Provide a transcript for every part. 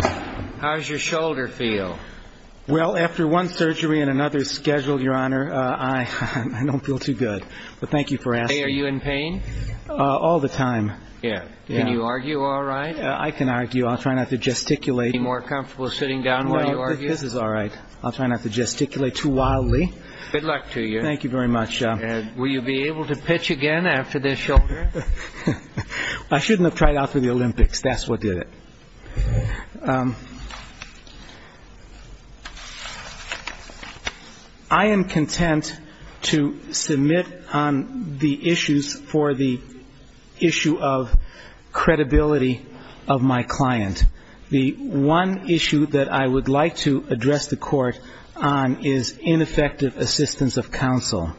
How does your shoulder feel? Well, after one surgery and another scheduled, Your Honor, I don't feel too good. But thank you for asking. Are you in pain? All the time. Can you argue all right? I can argue. I'll try not to gesticulate. Are you more comfortable sitting down while you argue? This is all right. I'll try not to gesticulate too wildly. Good luck to you. Thank you very much. Will you be able to pitch again after this shoulder? I shouldn't have tried out for the Olympics. That's what did it. I am content to submit on the issues for the issue of credibility of my client. The one issue that I would like to address the court on is ineffective assistance of counsel.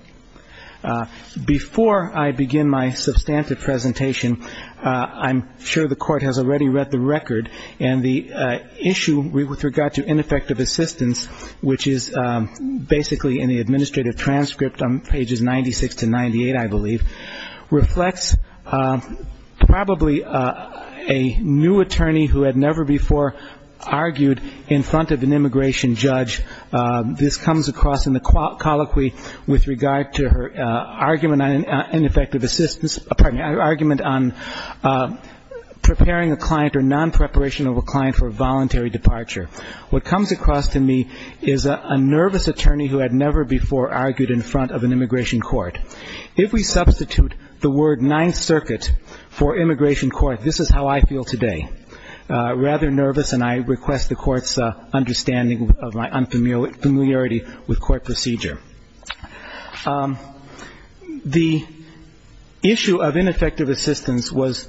Before I begin my substantive presentation, I'm sure the court has already read the record, and the issue with regard to ineffective assistance, which is basically in the administrative transcript on pages 96 to 98, I believe, reflects probably a new attorney who had never before argued in front of an immigration judge. This comes across in the colloquy with regard to her argument on ineffective assistance, pardon me, argument on preparing a client or non-preparation of a client for a voluntary departure. What comes across to me is a nervous attorney who had never before argued in front of an immigration court. If we substitute the word Ninth Circuit for immigration court, this is how I feel today, rather nervous, and I request the court's understanding of my unfamiliarity with court procedure. The issue of ineffective assistance was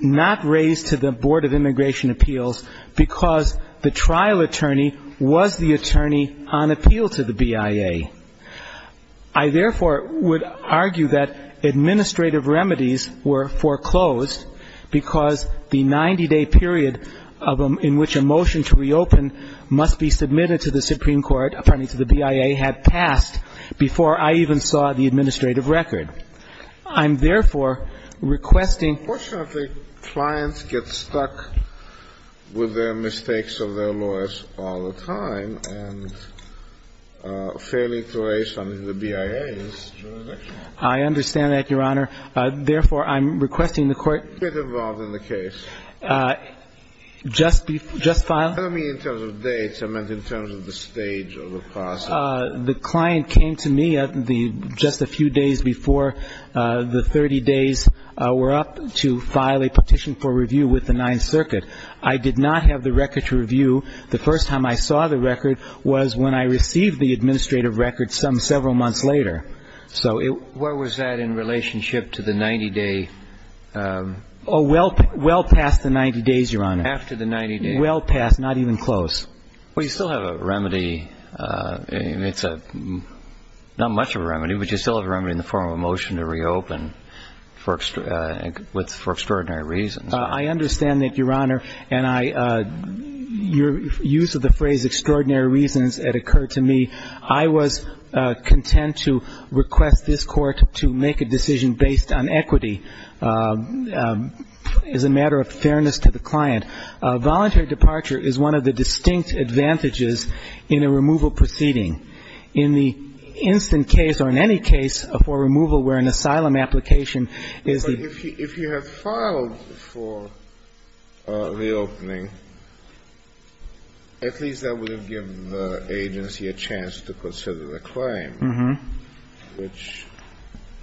not raised to the Board of Immigration Appeals because the trial attorney was the attorney on appeal to the BIA. I, therefore, would argue that administrative remedies were foreclosed because the 90-day period in which a motion to reopen must be submitted to the Supreme Court, pardon me, to the BIA, had passed before I even saw the administrative record. I'm, therefore, requesting ---- The portion of the clients get stuck with their mistakes of their lawyers all the time, and failing to raise them to the BIA is jurisdictional. I understand that, Your Honor. Therefore, I'm requesting the court ---- Get involved in the case. Just file ---- Tell me in terms of dates. I meant in terms of the stage of the process. The client came to me just a few days before the 30 days were up to file a petition for review with the Ninth Circuit. I did not have the record to review. The first time I saw the record was when I received the administrative record some several months later. So it ---- Where was that in relationship to the 90-day ---- Oh, well past the 90 days, Your Honor. After the 90 days. Well past. Not even close. Well, you still have a remedy. It's not much of a remedy, but you still have a remedy in the form of a motion to reopen for extraordinary reasons. I understand that, Your Honor. And I ---- Your use of the phrase extraordinary reasons, it occurred to me. I was content to request this Court to make a decision based on equity as a matter of fairness to the client. Voluntary departure is one of the distinct advantages in a removal proceeding. In the instant case or in any case for removal where an asylum application is the ---- reopening, at least that would have given the agency a chance to consider the claim. Mm-hmm. Which,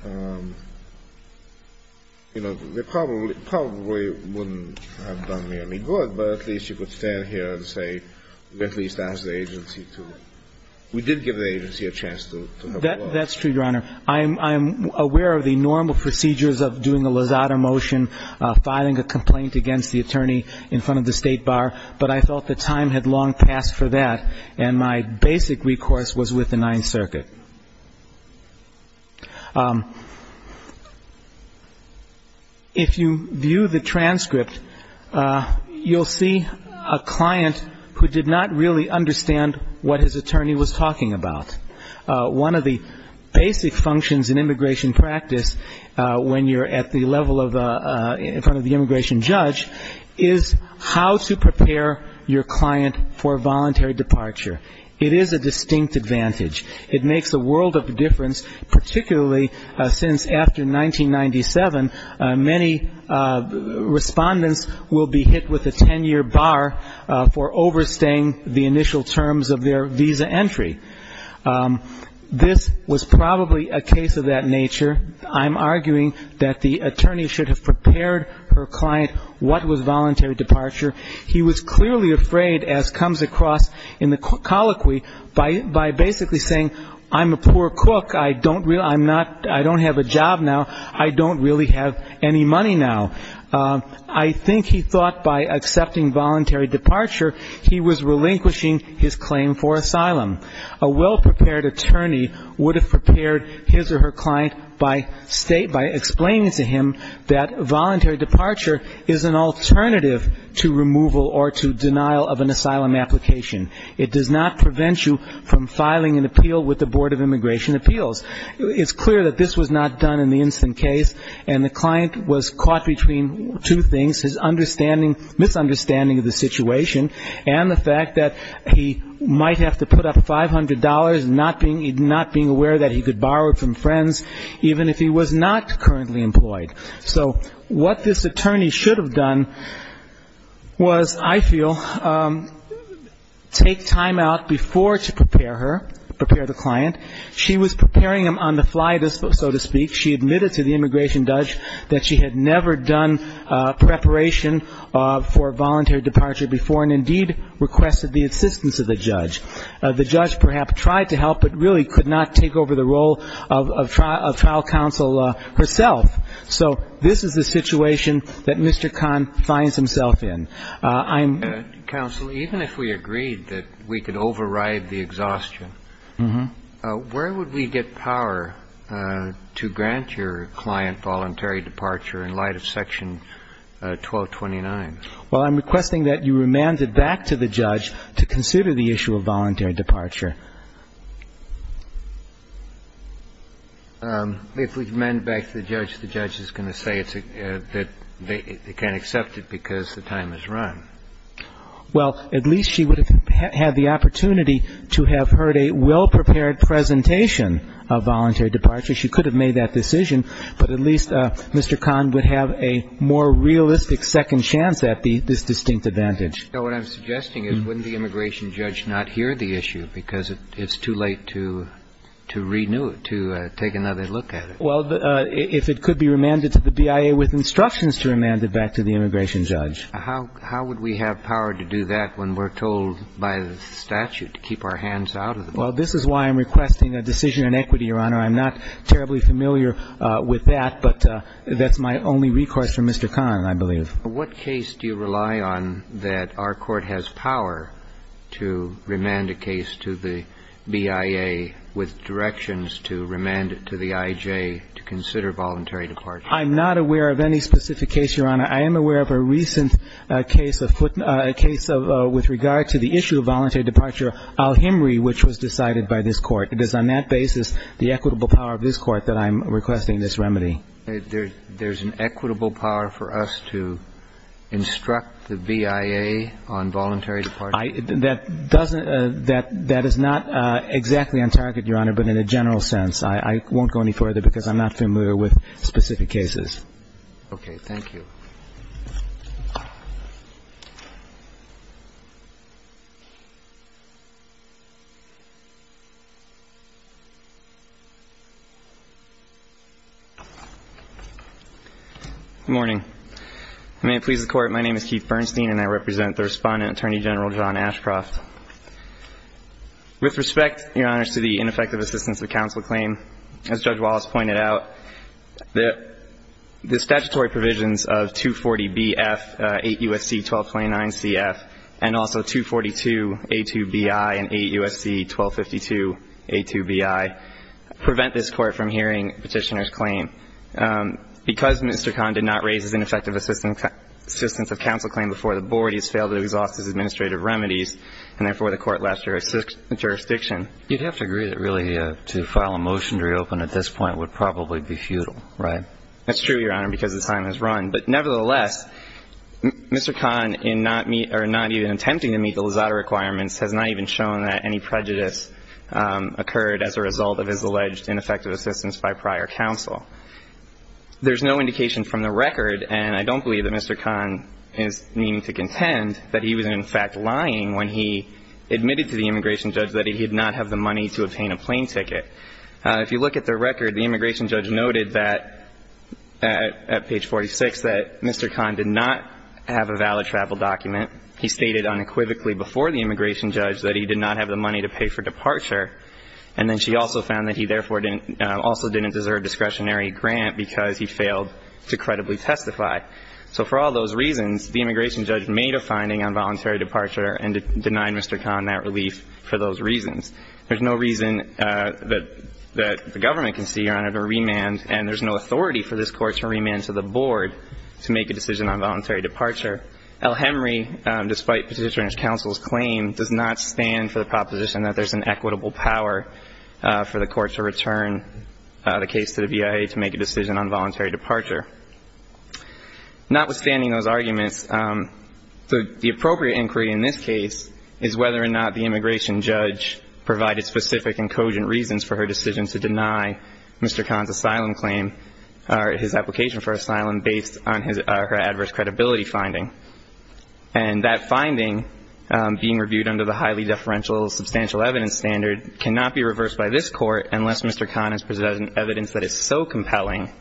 you know, probably wouldn't have done me any good, but at least you could stand here and say we at least asked the agency to. We did give the agency a chance to have a look. That's true, Your Honor. I'm aware of the normal procedures of doing a lasada motion, filing a complaint against the attorney in front of the State Bar, but I felt the time had long passed for that, and my basic recourse was with the Ninth Circuit. If you view the transcript, you'll see a client who did not really understand what his attorney was talking about. One of the basic functions in immigration practice when you're at the level in front of the immigration judge is how to prepare your client for voluntary departure. It is a distinct advantage. It makes a world of difference, particularly since after 1997, many respondents will be hit with a 10-year bar for overstaying the initial terms of their visa entry. This was probably a case of that nature. I'm arguing that the attorney should have prepared her client what was voluntary departure. He was clearly afraid, as comes across in the colloquy, by basically saying, I'm a poor cook. I don't have a job now. I don't really have any money now. I think he thought by accepting voluntary departure, he was relinquishing his claim for asylum. A well-prepared attorney would have prepared his or her client by explaining to him that voluntary departure is an alternative to removal or to denial of an asylum application. It does not prevent you from filing an appeal with the Board of Immigration Appeals. It's clear that this was not done in the instant case, and the client was caught between two things, his misunderstanding of the situation and the fact that he might have to put up $500, not being aware that he could borrow it from friends, even if he was not currently employed. So what this attorney should have done was, I feel, take time out before to prepare her, prepare the client. She was preparing him on the fly, so to speak. She admitted to the immigration judge that she had never done preparation for voluntary departure before and indeed requested the assistance of the judge. The judge perhaps tried to help but really could not take over the role of trial counsel herself. So this is the situation that Mr. Kahn finds himself in. I'm — Counsel, even if we agreed that we could override the exhaustion, where would we get power to grant your client voluntary departure in light of Section 1229? Well, I'm requesting that you remand it back to the judge to consider the issue of voluntary departure. If we remand it back to the judge, the judge is going to say that they can't accept it because the time is run. Well, at least she would have had the opportunity to have heard a well-prepared presentation of voluntary departure. She could have made that decision, but at least Mr. Kahn would have a more realistic second chance at this distinct advantage. So what I'm suggesting is wouldn't the immigration judge not hear the issue because it's too late to renew it, to take another look at it? Well, if it could be remanded to the BIA with instructions to remand it back to the immigration judge. How would we have power to do that when we're told by the statute to keep our hands out of the bill? Well, this is why I'm requesting a decision in equity, Your Honor. I'm not terribly familiar with that, but that's my only request from Mr. Kahn, I believe. What case do you rely on that our court has power to remand a case to the BIA with directions to remand it to the I.J. to consider voluntary departure? I'm not aware of any specific case, Your Honor. I am aware of a recent case, a case with regard to the issue of voluntary departure, Al-Himri, which was decided by this Court. It is on that basis, the equitable power of this Court, that I'm requesting this remedy. There's an equitable power for us to instruct the BIA on voluntary departure? That doesn't – that is not exactly on target, Your Honor, but in a general sense. I won't go any further because I'm not familiar with specific cases. Okay. Thank you. Good morning. May it please the Court, my name is Keith Bernstein, and I represent the Respondent Attorney General, John Ashcroft. With respect, Your Honor, to the ineffective assistance of counsel claim, as Judge Wallace of 240BF, 8 U.S.C. 1229CF, and also 242A2BI and 8 U.S.C. 1252A2BI, prevent this Court from hearing Petitioner's claim. Because Mr. Kahn did not raise his ineffective assistance of counsel claim before the Board, he has failed to exhaust his administrative remedies, and therefore the Court left jurisdiction. You'd have to agree that really to file a motion to reopen at this point would probably be futile, right? That's true, Your Honor, because the time has run. But nevertheless, Mr. Kahn in not meet – or not even attempting to meet the Luzzatto requirements has not even shown that any prejudice occurred as a result of his alleged ineffective assistance by prior counsel. There's no indication from the record, and I don't believe that Mr. Kahn is meaning to contend, that he was in fact lying when he admitted to the immigration judge that he did not have the money to obtain a plane ticket. If you look at the record, the immigration judge noted that, at page 46, that Mr. Kahn did not have a valid travel document. He stated unequivocally before the immigration judge that he did not have the money to pay for departure. And then she also found that he therefore didn't – also didn't deserve discretionary grant because he failed to credibly testify. So for all those reasons, the immigration judge made a finding on voluntary departure and denied Mr. Kahn that relief for those reasons. There's no reason that the government can see, Your Honor, to remand, and there's no authority for this Court to remand to the board to make a decision on voluntary departure. El-Hemry, despite Petitioner and his counsel's claim, does not stand for the proposition that there's an equitable power for the Court to return the case to the BIA to make a decision on voluntary departure. Notwithstanding those arguments, the appropriate inquiry in this case is whether or not the immigration judge provided specific and cogent reasons for her decision to deny Mr. Kahn's asylum claim or his application for asylum based on her adverse credibility finding. And that finding, being reviewed under the highly deferential substantial evidence standard, cannot be reversed by this Court unless Mr. Kahn has presented evidence that is so compelling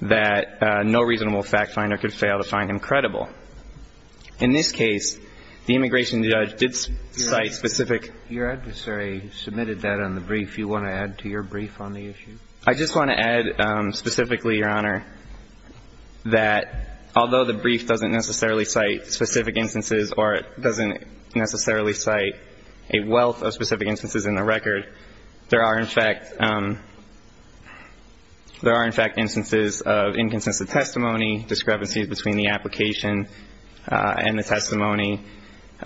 that no reasonable fact finder could fail to find him credible. In this case, the immigration judge did cite specific. Your adversary submitted that on the brief. Do you want to add to your brief on the issue? I just want to add specifically, Your Honor, that although the brief doesn't necessarily cite specific instances or it doesn't necessarily cite a wealth of specific instances in the record, there are, in fact, there are, in fact, instances of inconsistent testimony, discrepancies between the application and the testimony, the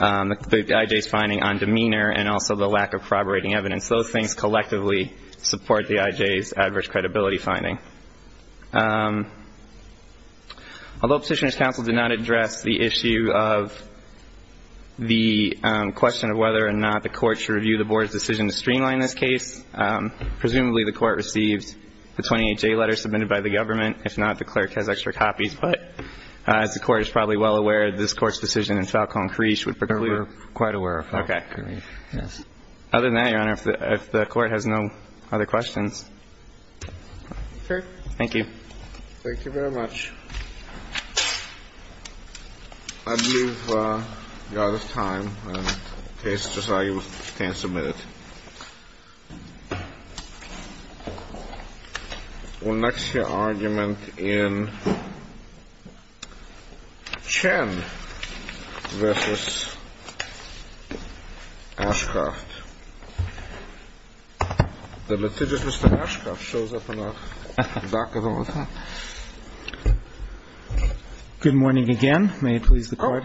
IJ's finding on demeanor, and also the lack of corroborating evidence. Those things collectively support the IJ's adverse credibility finding. Although Petitioner's Counsel did not address the issue of the question of whether or not the Court should review the Board's decision to streamline this case, presumably the Court received the 28-J letter submitted by the government. If not, the clerk has extra copies. But as the Court is probably well aware, this Court's decision in Falcone-Creesh would preclude. No, we're quite aware of Falcone-Creesh. Okay. Yes. Other than that, Your Honor, if the Court has no other questions. Sure. Thank you. Thank you very much. I believe we are out of time. The case is decided. You can submit it. We'll next hear argument in Chen v. Ashcroft. The litigious Mr. Ashcroft shows up in our dock at all times. May it please the Court. Thank you, Your Honor.